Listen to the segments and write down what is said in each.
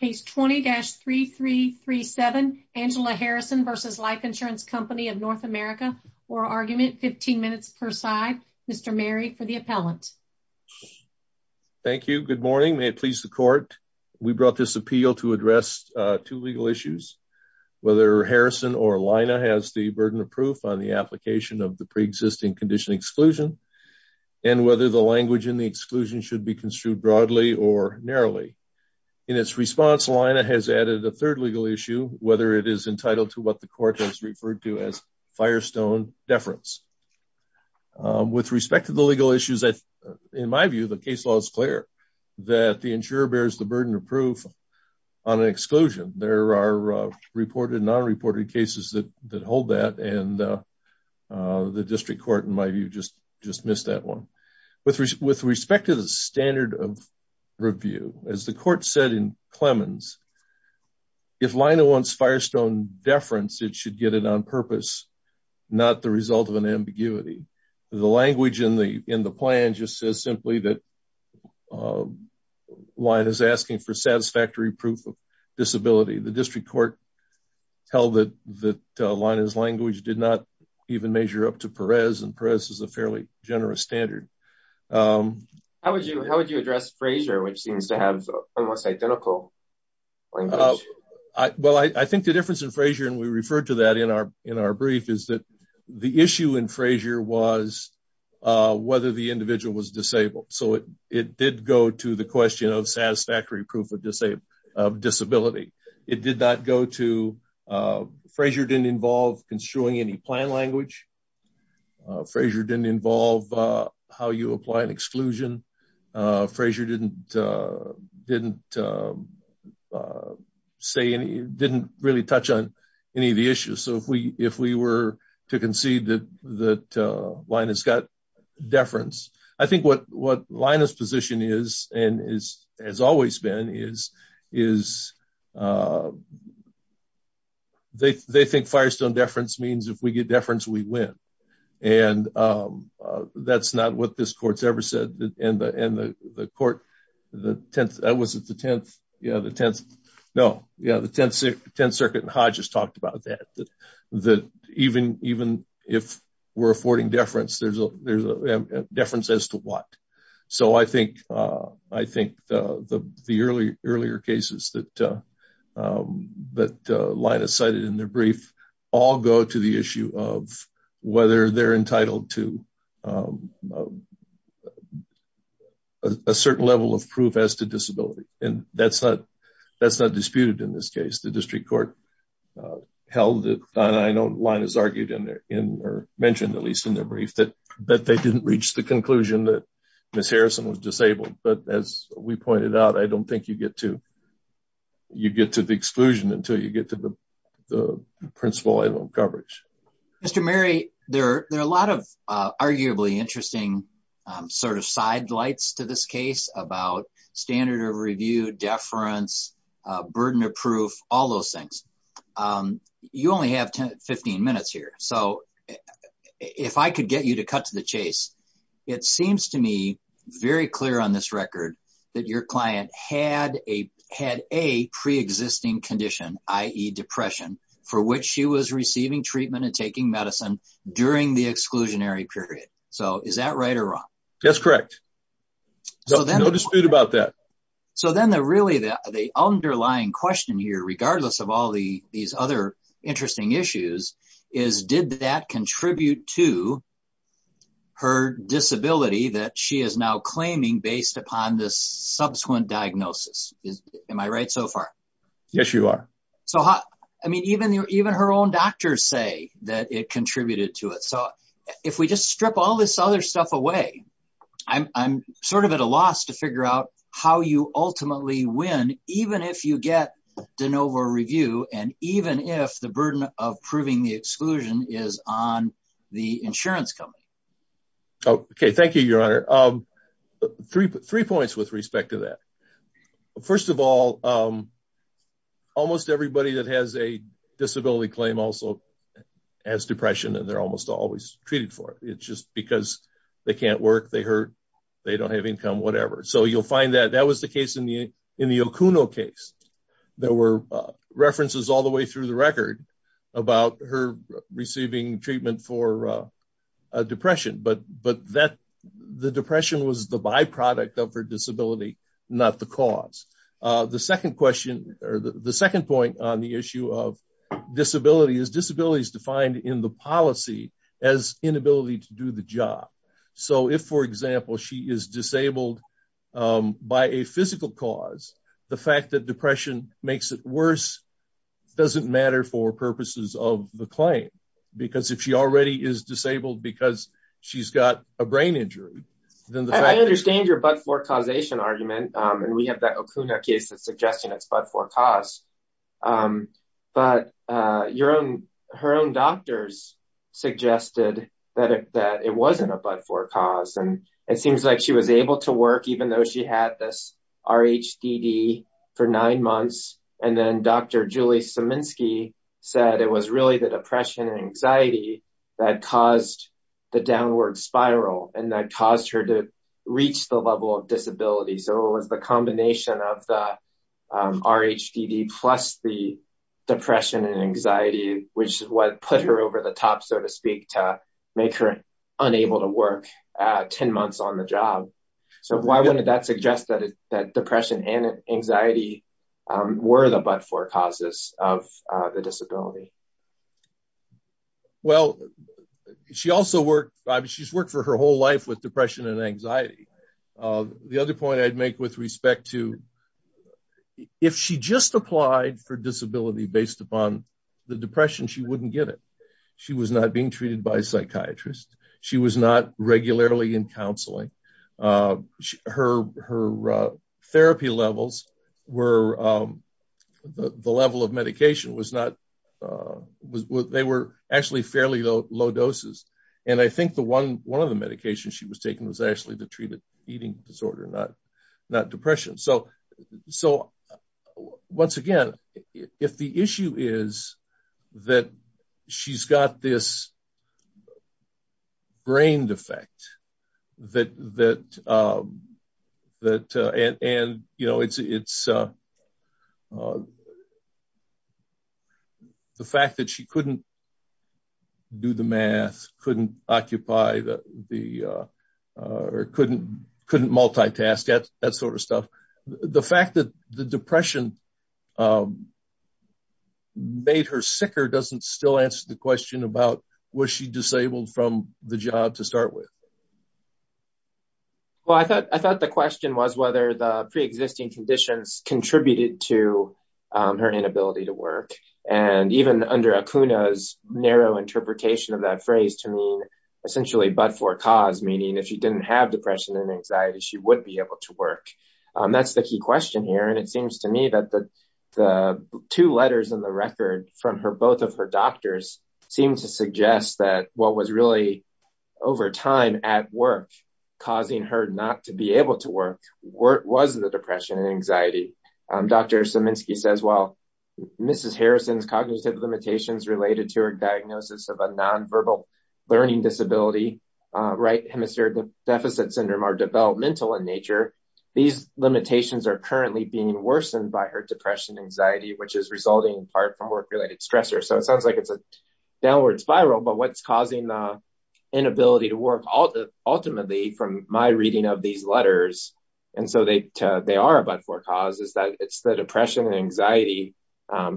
Case 20-3337. Angela Harrison v. Life Insurance Company of North America. Oral argument, 15 minutes per side. Mr. Mary for the appellant. Thank you. Good morning. May it please the court. We brought this appeal to address two legal issues. Whether Harrison or Lina has the burden of proof on the application of the pre-existing condition exclusion and whether the language in the exclusion should be construed broadly or narrowly. In its response, Lina has added a third legal issue, whether it is entitled to what the court has referred to as firestone deference. With respect to the legal issues, in my view, the case law is clear that the insurer bears the burden of proof on an exclusion. There are reported and non-reported cases that hold that and the district court, in my view, just missed that one. With respect to the standard of review, as the court said in Clemens, if Lina wants firestone deference, it should get it on purpose, not the result of an ambiguity. The language in the plan just says simply that Lina is asking for satisfactory proof of disability. The district court held that Lina's language did not even measure up to Perez, and Perez is a fairly generous standard. How would you address Frazier, which seems to have almost identical language? I think the difference in Frazier, and we referred to that in our brief, is that the issue in Frazier was whether the individual was disabled. It did go to the question of satisfactory proof of disability. Frazier did not involve construing any plan language. Frazier did not involve how you apply an exclusion. Frazier did not really touch on any of the issues. If we were to concede that Lina has got deference, I think what Lina's has always been is they think firestone deference means if we get deference, we win. That's not what this court has ever said. The 10th Circuit and Hodges talked about that. That even if we're affording deference, there's a deference as to what. I think the earlier cases that Lina cited in their brief all go to the issue of whether they're entitled to a certain level of proof as to disability. That's not disputed in this case. The district court held it, and I know Lina's argued or mentioned, at least in their brief, that they didn't reach the conclusion that Ms. Harrison was disabled. As we pointed out, I don't think you get to the exclusion until you get to the principle item of coverage. Mr. Murray, there are a lot of arguably interesting sidelights to this case about standard of review, deference, burden of proof, all those things. You only have 15 minutes here. If I could get you to cut to the chase, it seems to me very clear on this record that your client had a pre-existing condition, i.e., depression, for which she was receiving treatment and taking medicine during the exclusionary period. Is that right or wrong? That's correct. No dispute about that. The underlying question here, regardless of all these other interesting issues, is did that contribute to her disability that she is now claiming based upon this subsequent diagnosis? Am I right so far? Yes, you are. I mean, even her own doctors say that it contributed to it. If we just strip all this other stuff away, I'm at a loss to figure out how you ultimately win, even if you get de novo review and even if the burden of proving the exclusion is on the insurance company. Thank you, Your Honor. Three points with respect to that. First of all, almost everybody that has a disability claim also has depression and they're almost always treated for it. It's just because they can't work, they hurt, they don't have income, whatever. So you'll find that that was the case in the Okuno case. There were references all the way through the record about her receiving treatment for depression, but the depression was the or the second point on the issue of disability is disability is defined in the policy as inability to do the job. So if, for example, she is disabled by a physical cause, the fact that depression makes it worse doesn't matter for purposes of the claim, because if she already is disabled because she's got a brain injury, then the fact- and we have that Okuno case that's suggesting it's but-for-cause. But her own doctors suggested that it wasn't a but-for-cause and it seems like she was able to work even though she had this RHDD for nine months. And then Dr. Julie Szyminski said it was really the depression and anxiety that caused the downward spiral and that caused to reach the level of disability. So it was the combination of the RHDD plus the depression and anxiety, which is what put her over the top, so to speak, to make her unable to work 10 months on the job. So why wouldn't that suggest that depression and anxiety were the but-for-causes of the disability? Well, she also worked, she's worked for her whole life with depression and anxiety. The other point I'd make with respect to if she just applied for disability based upon the depression, she wouldn't get it. She was not being treated by a psychiatrist. She was not regularly in counseling. Her therapy levels were-the level of medication was not-they were actually fairly low doses. And I think the one of the medications she was taking was actually the treated eating disorder, not depression. So once again, if the issue is that she's got this ingrained effect that-and, you know, it's the fact that she couldn't do the math, couldn't occupy the-or couldn't multitask, that sort of stuff. The fact that the depression made her sicker doesn't still answer the question about was she disabled from the job to start with? Well, I thought the question was whether the pre-existing conditions contributed to her inability to work. And even under Akuna's narrow interpretation of that phrase to mean essentially but-for-cause, meaning if she didn't have depression and anxiety, she would be able to the two letters in the record from her-both of her doctors seem to suggest that what was really over time at work causing her not to be able to work was the depression and anxiety. Dr. Siminski says, well, Mrs. Harrison's cognitive limitations related to her diagnosis of a nonverbal learning disability, right hemisphere deficit syndrome, are developmental in nature. These limitations are currently being worsened by her depression and anxiety, which is resulting in part from work-related stressors. So it sounds like it's a downward spiral, but what's causing the inability to work ultimately from my reading of these letters, and so they are but-for-cause, is that it's the depression and anxiety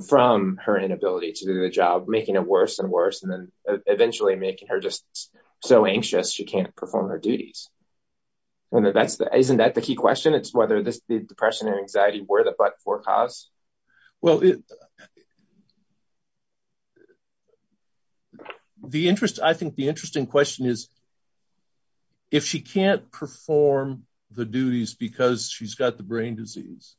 from her inability to do the job making it worse and worse, and then eventually making her just so anxious she can't perform her duties. And that's the-isn't that the key question? It's whether this-the depression or anxiety were the but-for-cause? Well, the interest-I think the interesting question is if she can't perform the duties because she's got the brain disease,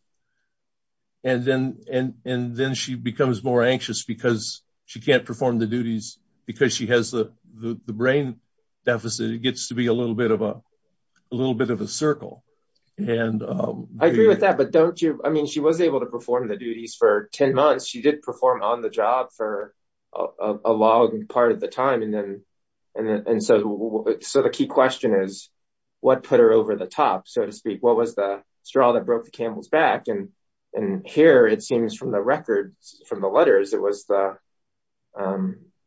and then-and-and then she becomes more anxious because she can't perform the duties because she has the-the brain deficit. It gets to be a little bit of a-a little bit of a circle, and- I agree with that, but don't you-I mean, she was able to perform the duties for 10 months. She did perform on the job for a long part of the time, and then-and so-so the key question is what put her over the top, so to speak? What was the straw that broke the camel's back? And-and here, it seems from the records, from the letters, it was the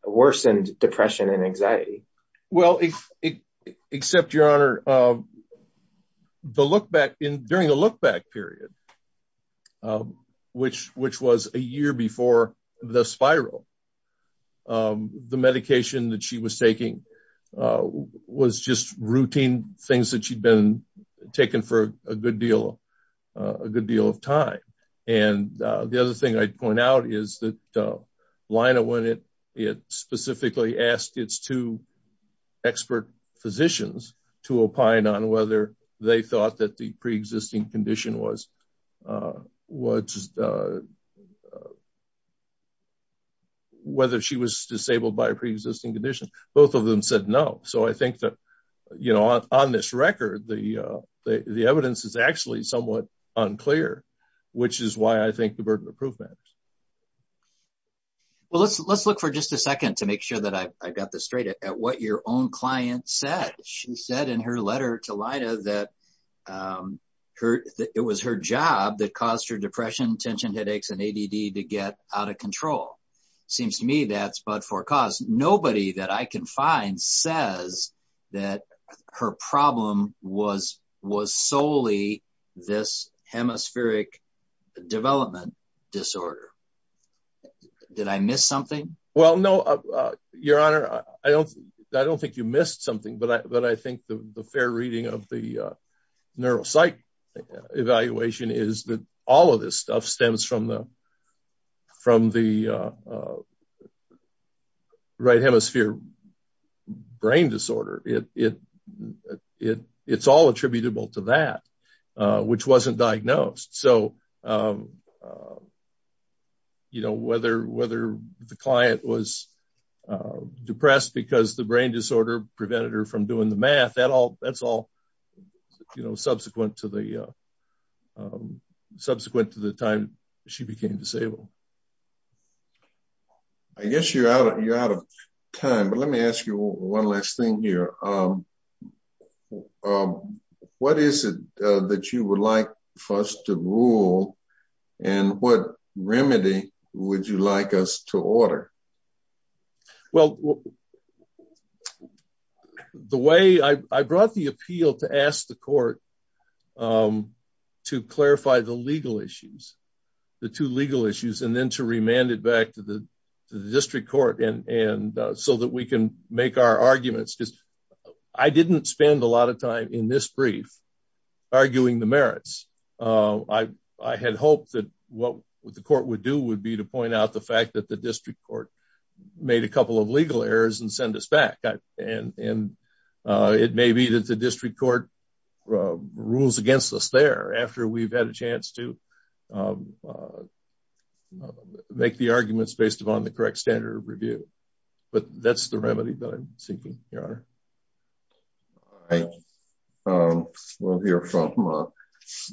worsened depression and anxiety. Well, except, Your Honor, the look-back in-during the look-back period, which-which was a year before the spiral, the medication that she was taking was just routine things that she'd been taking for a good deal-a good deal of time. And the thing I'd point out is that Lyna, when it-it specifically asked its two expert physicians to opine on whether they thought that the pre-existing condition was-was- whether she was disabled by a pre-existing condition, both of them said no. So, I think that, you know, on this record, the-the evidence is actually somewhat unclear, which is why I think the verdict would prove that. Well, let's-let's look for just a second to make sure that I-I got this straight at-at what your own client said. She said in her letter to Lyna that her-it was her job that caused her depression, tension, headaches, and ADD to get out of control. Seems to me that's but for cause. Nobody that I can find says that her problem was-was this hemispheric development disorder. Did I miss something? Well, no, Your Honor, I don't-I don't think you missed something, but I-but I think the-the fair reading of the neuropsych evaluation is that all of this stuff stems from the-from the right hemisphere brain disorder. It-it-it-it's attributable to that, which wasn't diagnosed. So, you know, whether-whether the client was depressed because the brain disorder prevented her from doing the math, that all-that's all, you know, subsequent to the-subsequent to the time she became disabled. I guess you're out-you're out of time, but let me ask you one last thing here. What is it that you would like for us to rule, and what remedy would you like us to order? Well, the way I-I brought the appeal to ask the court to clarify the legal issues, the two legal issues, and then to remand it back to the-to the district court and-and so that we can make our arguments, because I didn't spend a lot of time in this brief arguing the merits. I-I had hoped that what the court would do would be to point out the fact that the district court made a couple of legal errors and send us back, and-and it may be that the district court rules against us there after we've had a chance to make the arguments based upon the correct standard of review, but that's the remedy that I'm seeking, Your Honor. All right, we'll hear from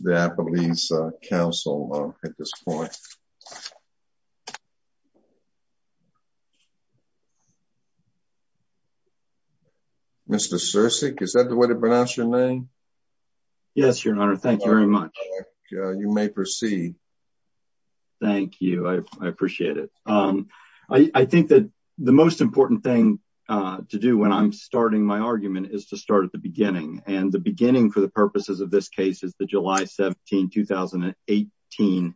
the Appalachian Council at this point. Mr. Sirsik, is that the way to pronounce your name? Yes, Your Honor, thank you very much. You may proceed. Thank you, I-I appreciate it. I-I think that the most important thing to do when I'm starting my argument is to start at the beginning, and the beginning for the purposes of this case is the July 17, 2018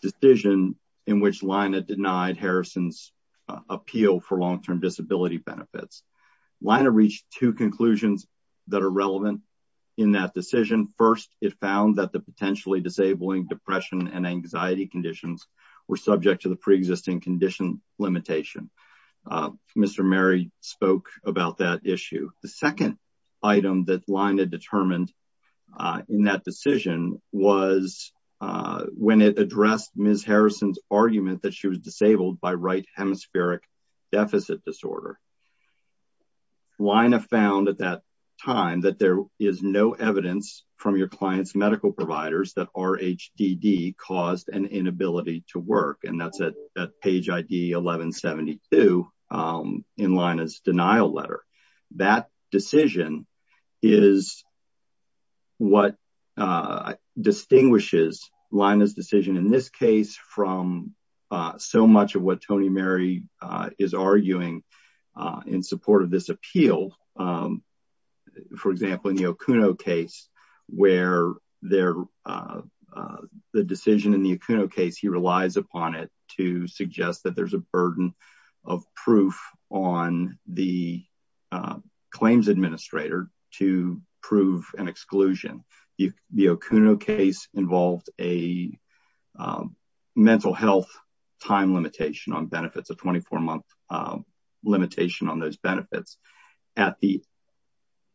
decision in which Lina denied Harrison's appeal for long-term disability benefits. Lina reached two conclusions that are relevant in that decision. First, it found that potentially disabling depression and anxiety conditions were subject to the pre-existing condition limitation. Mr. Murray spoke about that issue. The second item that Lina determined in that decision was when it addressed Ms. Harrison's argument that she was disabled by right hemispheric deficit disorder. Lina found at that time that there is no evidence from your medical providers that RHDD caused an inability to work, and that's at page ID 1172 in Lina's denial letter. That decision is what distinguishes Lina's decision in this case from so much of what there-the decision in the Acuno case. He relies upon it to suggest that there's a burden of proof on the claims administrator to prove an exclusion. The Acuno case involved a mental health time limitation on benefits, a 24-month limitation on those benefits. At the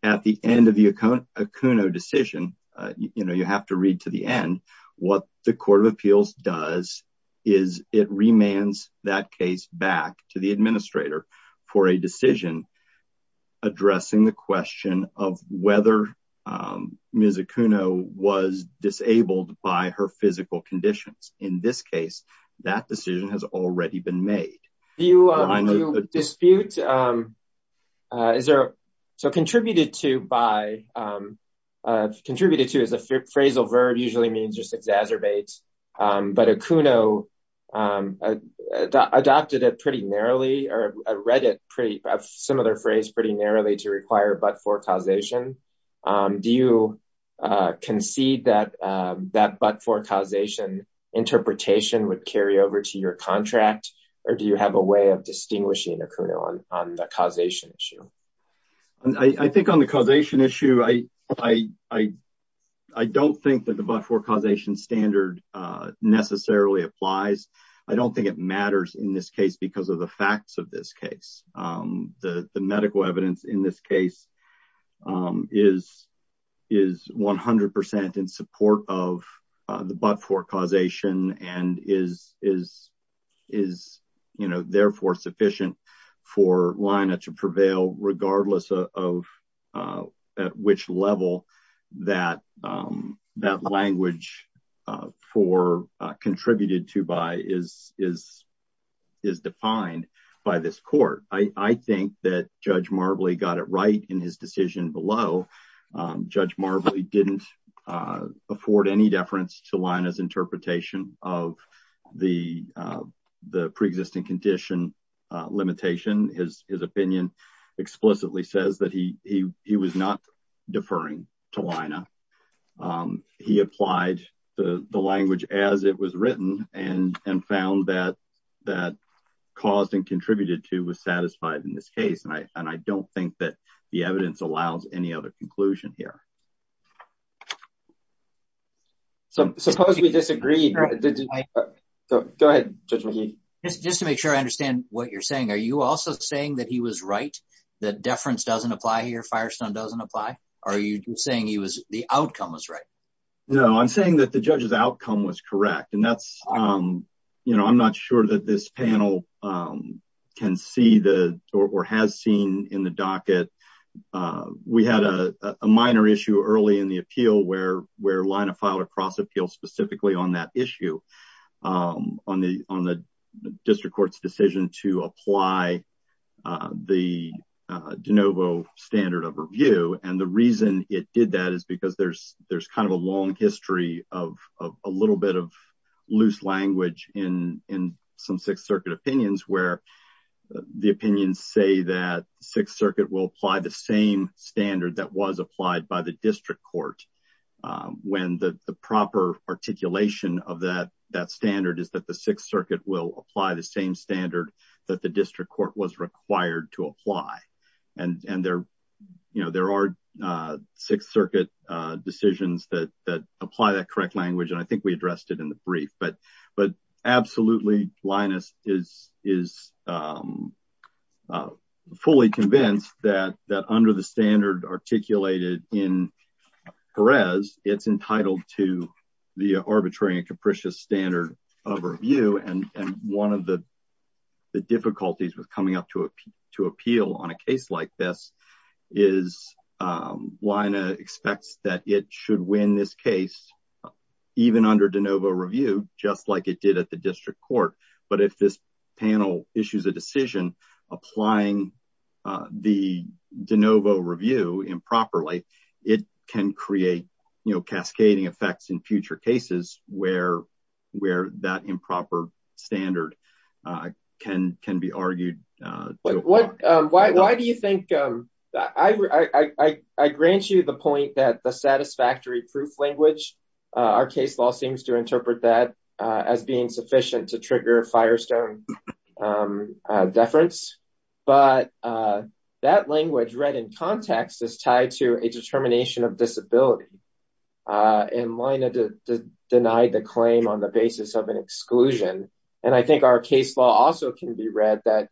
end of the Acuno decision, you have to read to the end, what the Court of Appeals does is it remands that case back to the administrator for a decision addressing the question of whether Ms. Acuno was disabled by her physical conditions. In this case, that decision has already been made. Do you dispute-is there-so contributed to by-contributed to as a phrasal verb usually means just exacerbates, but Acuno adopted it pretty narrowly or read it pretty-a similar phrase-pretty narrowly to require but-for causation. Do you concede that that but-for interpretation would carry over to your contract or do you have a way of distinguishing Acuno on the causation issue? I think on the causation issue, I don't think that the but-for causation standard necessarily applies. I don't think it matters in this case because of the facts of this but-for causation and is, you know, therefore sufficient for LIHNA to prevail regardless of at which level that language for contributed to by is defined by this court. I think that Judge Marbley got it right in his decision below. Judge Marbley didn't afford any deference to LIHNA's interpretation of the pre-existing condition limitation. His opinion explicitly says that he was not deferring to LIHNA. He applied the language as it was written and found that caused and contributed to was satisfied in this case and I don't think the evidence allows any other conclusion here. Suppose we disagree. Go ahead, Judge McKee. Just to make sure I understand what you're saying, are you also saying that he was right? That deference doesn't apply here? Firestone doesn't apply? Are you saying he was-the outcome was right? No, I'm saying that the judge's outcome was correct and that's, you know, I'm not sure that this panel can see the-or has seen in the docket. We had a minor issue early in the appeal where LIHNA filed a cross appeal specifically on that issue on the district court's decision to apply the de novo standard of review and the loose language in some Sixth Circuit opinions where the opinions say that the Sixth Circuit will apply the same standard that was applied by the district court when the proper articulation of that standard is that the Sixth Circuit will apply the same standard that the district court was required to apply and there are Sixth Circuit decisions that apply that correct language and I but absolutely LIHNA is fully convinced that under the standard articulated in Perez, it's entitled to the arbitrary and capricious standard of review and one of the difficulties with coming up to appeal on a case like this is LIHNA expects that it should win this case even under de novo review just like it did at the district court but if this panel issues a decision applying the de novo review improperly, it can create, you know, cascading effects in future cases where that improper standard can be argued. Why do you think-I grant you the point that the satisfactory proof language, our case law seems to interpret that as being sufficient to trigger firestone deference but that language read in context is tied to a determination of disability and LIHNA denied the claim on the basis of an exclusion and I think our case law also can be read that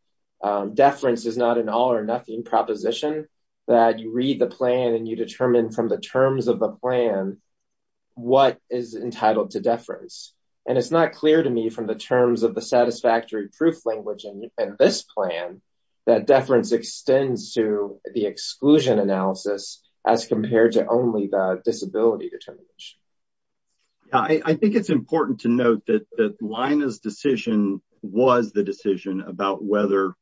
deference is not an all or nothing proposition that you read the plan and you determine from the terms of the plan what is entitled to deference and it's not clear to me from the terms of the satisfactory proof language in this plan that deference extends to the exclusion analysis as compared to only the disability determination. I think it's important to note that that LIHNA's decision was the decision about whether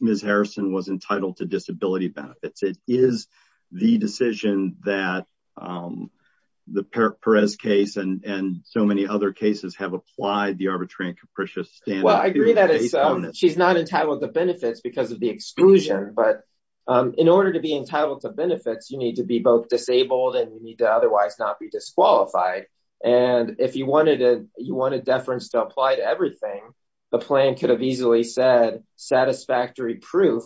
Ms. Harrison was entitled to disability benefits. It is the decision that the Perez case and so many other cases have applied the arbitrary and capricious standard. Well, I agree that she's not entitled to benefits because of the exclusion but in order to be entitled to benefits, you need to be both disabled and you need to otherwise not be disqualified and if you wanted deference to apply to everything, the plan could have easily said satisfactory proof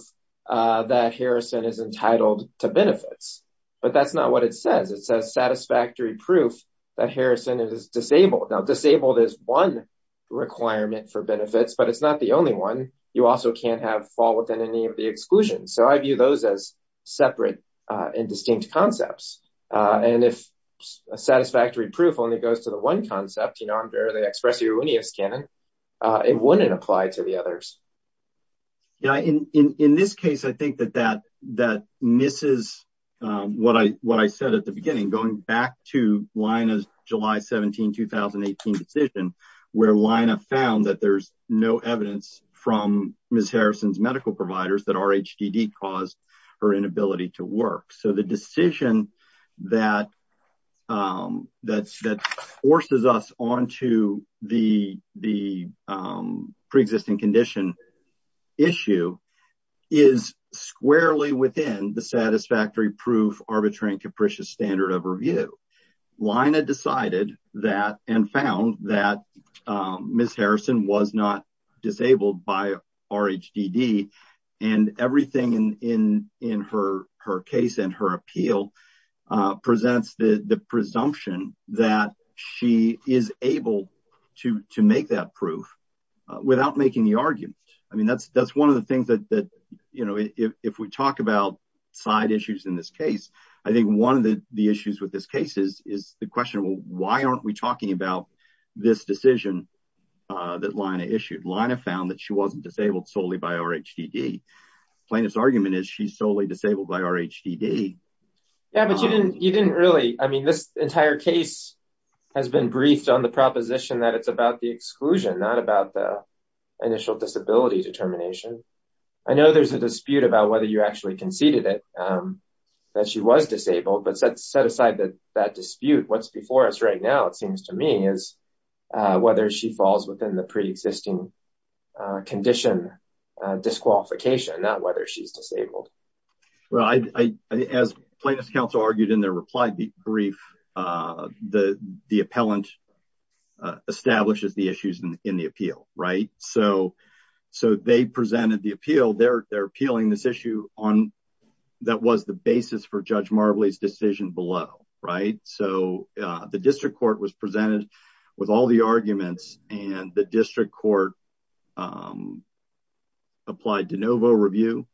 that Harrison is entitled to benefits but that's not what it says. It says satisfactory proof that Harrison is disabled. Now, disabled is one requirement for benefits but it's not the only one. You also can't have fault within any of the exclusions so I view those as separate and distinct concepts and if a satisfactory proof only goes to the one concept, the expressiveness canon, it wouldn't apply to the others. Yeah, in this case, I think that that misses what I said at the beginning going back to LIHNA's July 17, 2018 decision where LIHNA found that there's no evidence from Ms. Harrison's that forces us onto the pre-existing condition issue is squarely within the satisfactory proof arbitrary and capricious standard of review. LIHNA decided that and found that Ms. Harrison was not she is able to make that proof without making the argument. I mean, that's one of the things that if we talk about side issues in this case, I think one of the issues with this case is the question why aren't we talking about this decision that LIHNA issued? LIHNA found that she wasn't disabled solely by RHDD. Plaintiff's argument is she's solely disabled by RHDD. Yeah, but you didn't really, I mean, this entire case has been briefed on the proposition that it's about the exclusion, not about the initial disability determination. I know there's a dispute about whether you actually conceded it, that she was disabled, but set aside that dispute. What's before us right now, it seems to me, is whether she falls within the pre-existing condition disqualification, not whether she's disabled. Well, as plaintiff's counsel argued in their reply brief, the appellant establishes the issues in the appeal, right? So, they presented the appeal, they're appealing this issue on, that was the basis for Judge Marbley's decision below, right? So, the district court was presented with all the arguments and the district court applied de novo review,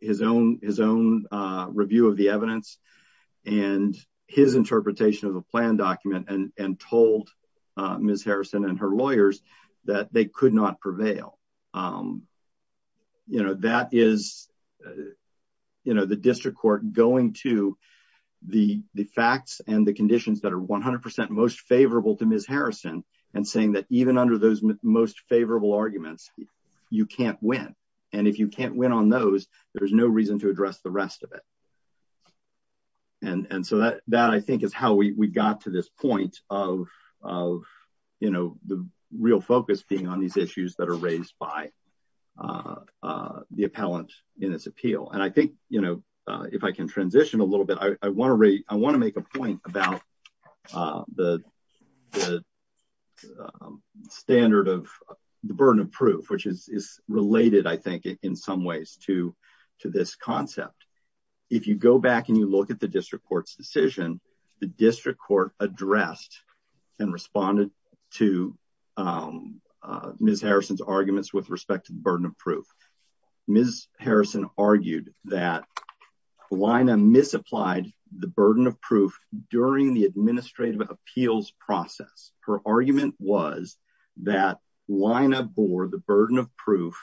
his own review of the evidence, and his interpretation of the plan document, and told Ms. Harrison and her lawyers that they could not prevail. You know, that is, you know, the district court going to the facts and the conditions that are 100% most favorable to Ms. Harrison, and saying that even under those most favorable arguments, you can't win. And if you can't win on those, there's no reason to address the rest of it. And so, that I think is how we got to this point of, you know, the real focus being on these issues that are raised by the appellant in this appeal. And I think, you know, if I can transition a little bit, I think I missed out the standard of the burden of proof, which is related, I think, in some ways to this concept. If you go back and you look at the district court's decision, the district court addressed and responded to Ms. Harrison's arguments with respect to the burden of proof during the administrative appeals process. Her argument was that Lina bore the burden of proof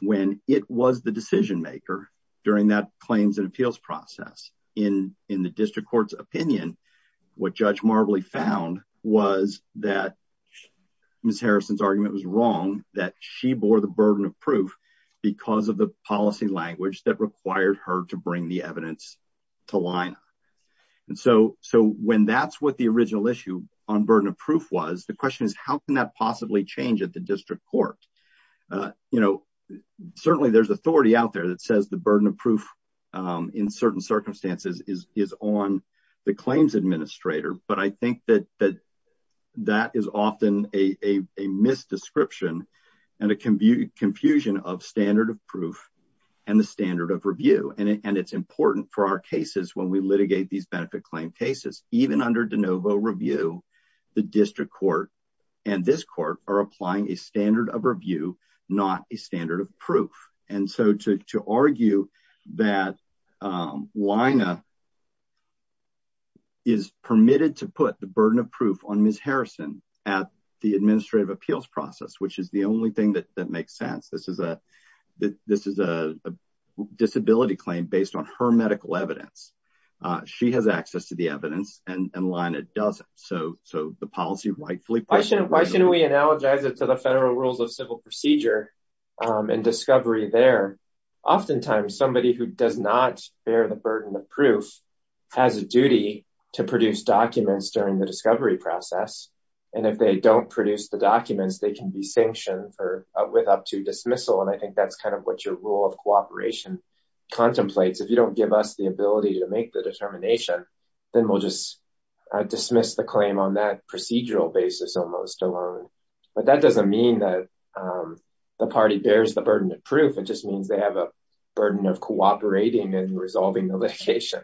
when it was the decision maker during that claims and appeals process. In the district court's opinion, what Judge Marbley found was that Ms. Harrison's argument was wrong, that she bore the burden of proof because of the policy language that required her to bring the evidence to Lina. And so, when that's what the original issue on burden of proof was, the question is, how can that possibly change at the district court? You know, certainly there's authority out there that says the burden of proof in certain circumstances is on the claims administrator, but I think that that is often a misdescription and a confusion of standard of and it's important for our cases when we litigate these benefit claim cases. Even under de novo review, the district court and this court are applying a standard of review, not a standard of proof. And so, to argue that Lina is permitted to put the burden of proof on Ms. Harrison at the based on her medical evidence, she has access to the evidence and Lina doesn't. So, the policy rightfully... Why shouldn't we analogize it to the federal rules of civil procedure and discovery there? Oftentimes, somebody who does not bear the burden of proof has a duty to produce documents during the discovery process. And if they don't produce the documents, they can be sanctioned with up to dismissal. And I think that's kind of what your rule of contemplates. If you don't give us the ability to make the determination, then we'll just dismiss the claim on that procedural basis almost alone. But that doesn't mean that the party bears the burden of proof. It just means they have a burden of cooperating and resolving the litigation.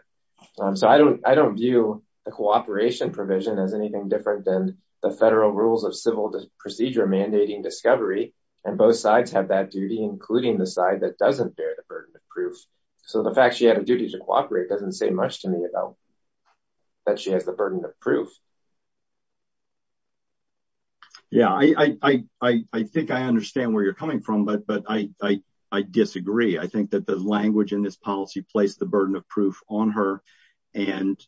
So, I don't view the cooperation provision as anything different than the federal rules of civil procedure mandating discovery. And both sides have that duty, including the side that doesn't bear the burden of proof. So, the fact she had a duty to cooperate doesn't say much to me that she has the burden of proof. Yeah. I think I understand where you're coming from, but I disagree. I think that the language in this policy placed the burden of proof on her and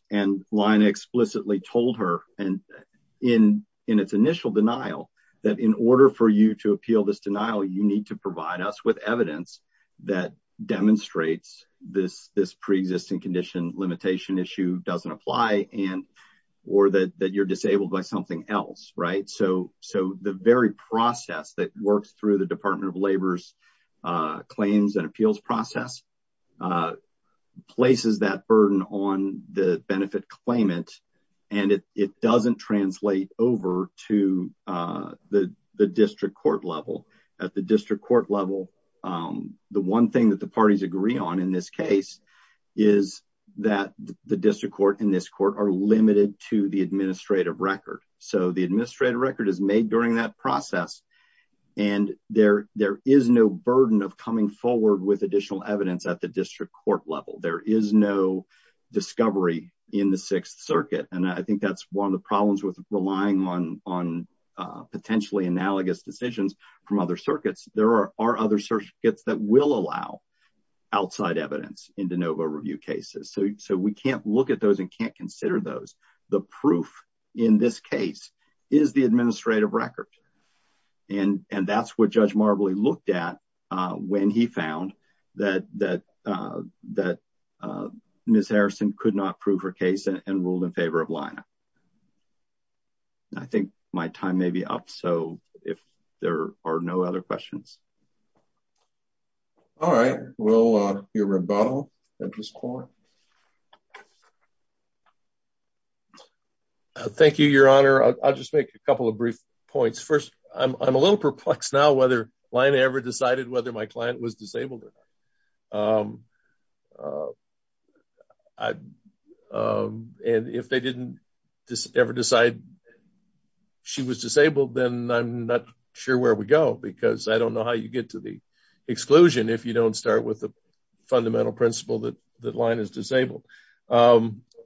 Lina explicitly told her in its initial denial that in order for you to appeal this denial, you need to provide us with evidence that demonstrates this pre-existing condition limitation issue doesn't apply, or that you're disabled by something else. So, the very process that works through the Department of Labor's claims and appeals process places that burden on the benefit claimant, and it doesn't translate over to the district court level. At the district court level, the one thing that the parties agree on in this case is that the district court and this court are limited to the administrative record. So, the administrative record is made during that process, and there is no burden of coming forward with additional evidence at the district court level. There is no discovery in the Sixth Circuit, and I think that's one of the problems with relying on potentially analogous decisions from other circuits. There are other circuits that will allow outside evidence in de novo review cases, so we can't look at those and can't consider those. The proof in this case is the administrative record, and that's what Judge Marbley looked at when he found that Ms. Harrison could not prove her case and ruled in favor of Lina. I think my time may be up, so if there are no other questions. All right. Will your rebuttal at this point? Thank you, Your Honor. I'll just make a couple of brief points. First, I'm a little perplexed now Lina ever decided whether my client was disabled or not. If they didn't ever decide she was disabled, then I'm not sure where we go because I don't know how you get to the exclusion if you don't start with the fundamental principle that Lina is disabled.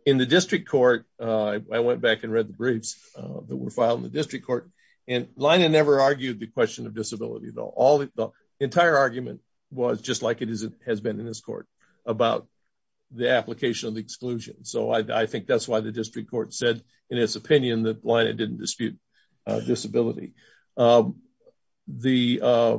In the district court, I went back and read the briefs that were filed in the district court. Lina never argued the question of disability. The entire argument was just like it has been in this court about the application of the exclusion. I think that's why the district court said in its opinion that Lina didn't dispute disability. The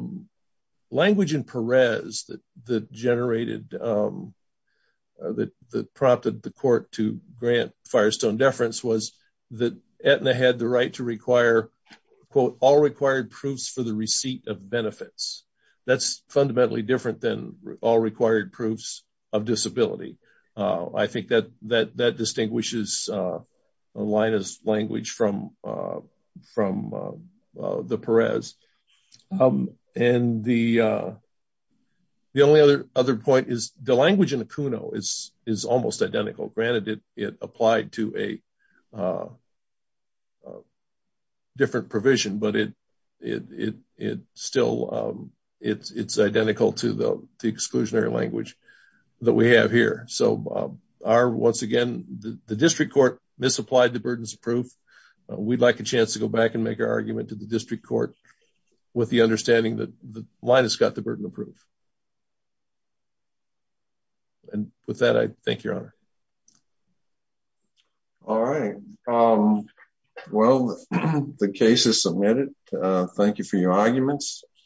language in Perez that prompted the court to grant Firestone deference was that Aetna had the right to quote, all required proofs for the receipt of benefits. That's fundamentally different than all required proofs of disability. I think that distinguishes Lina's language from the Perez. The only other point is the language in Acuno is almost identical. Granted, it applied to a different provision, but it's identical to the exclusionary language that we have here. The district court misapplied the burdens of proof. We'd like a chance to go back and make our argument to the district court with the understanding that Lina's got the burden of proof. With that, I thank you, Your Honor. All right. Well, the case is submitted. Thank you for your arguments.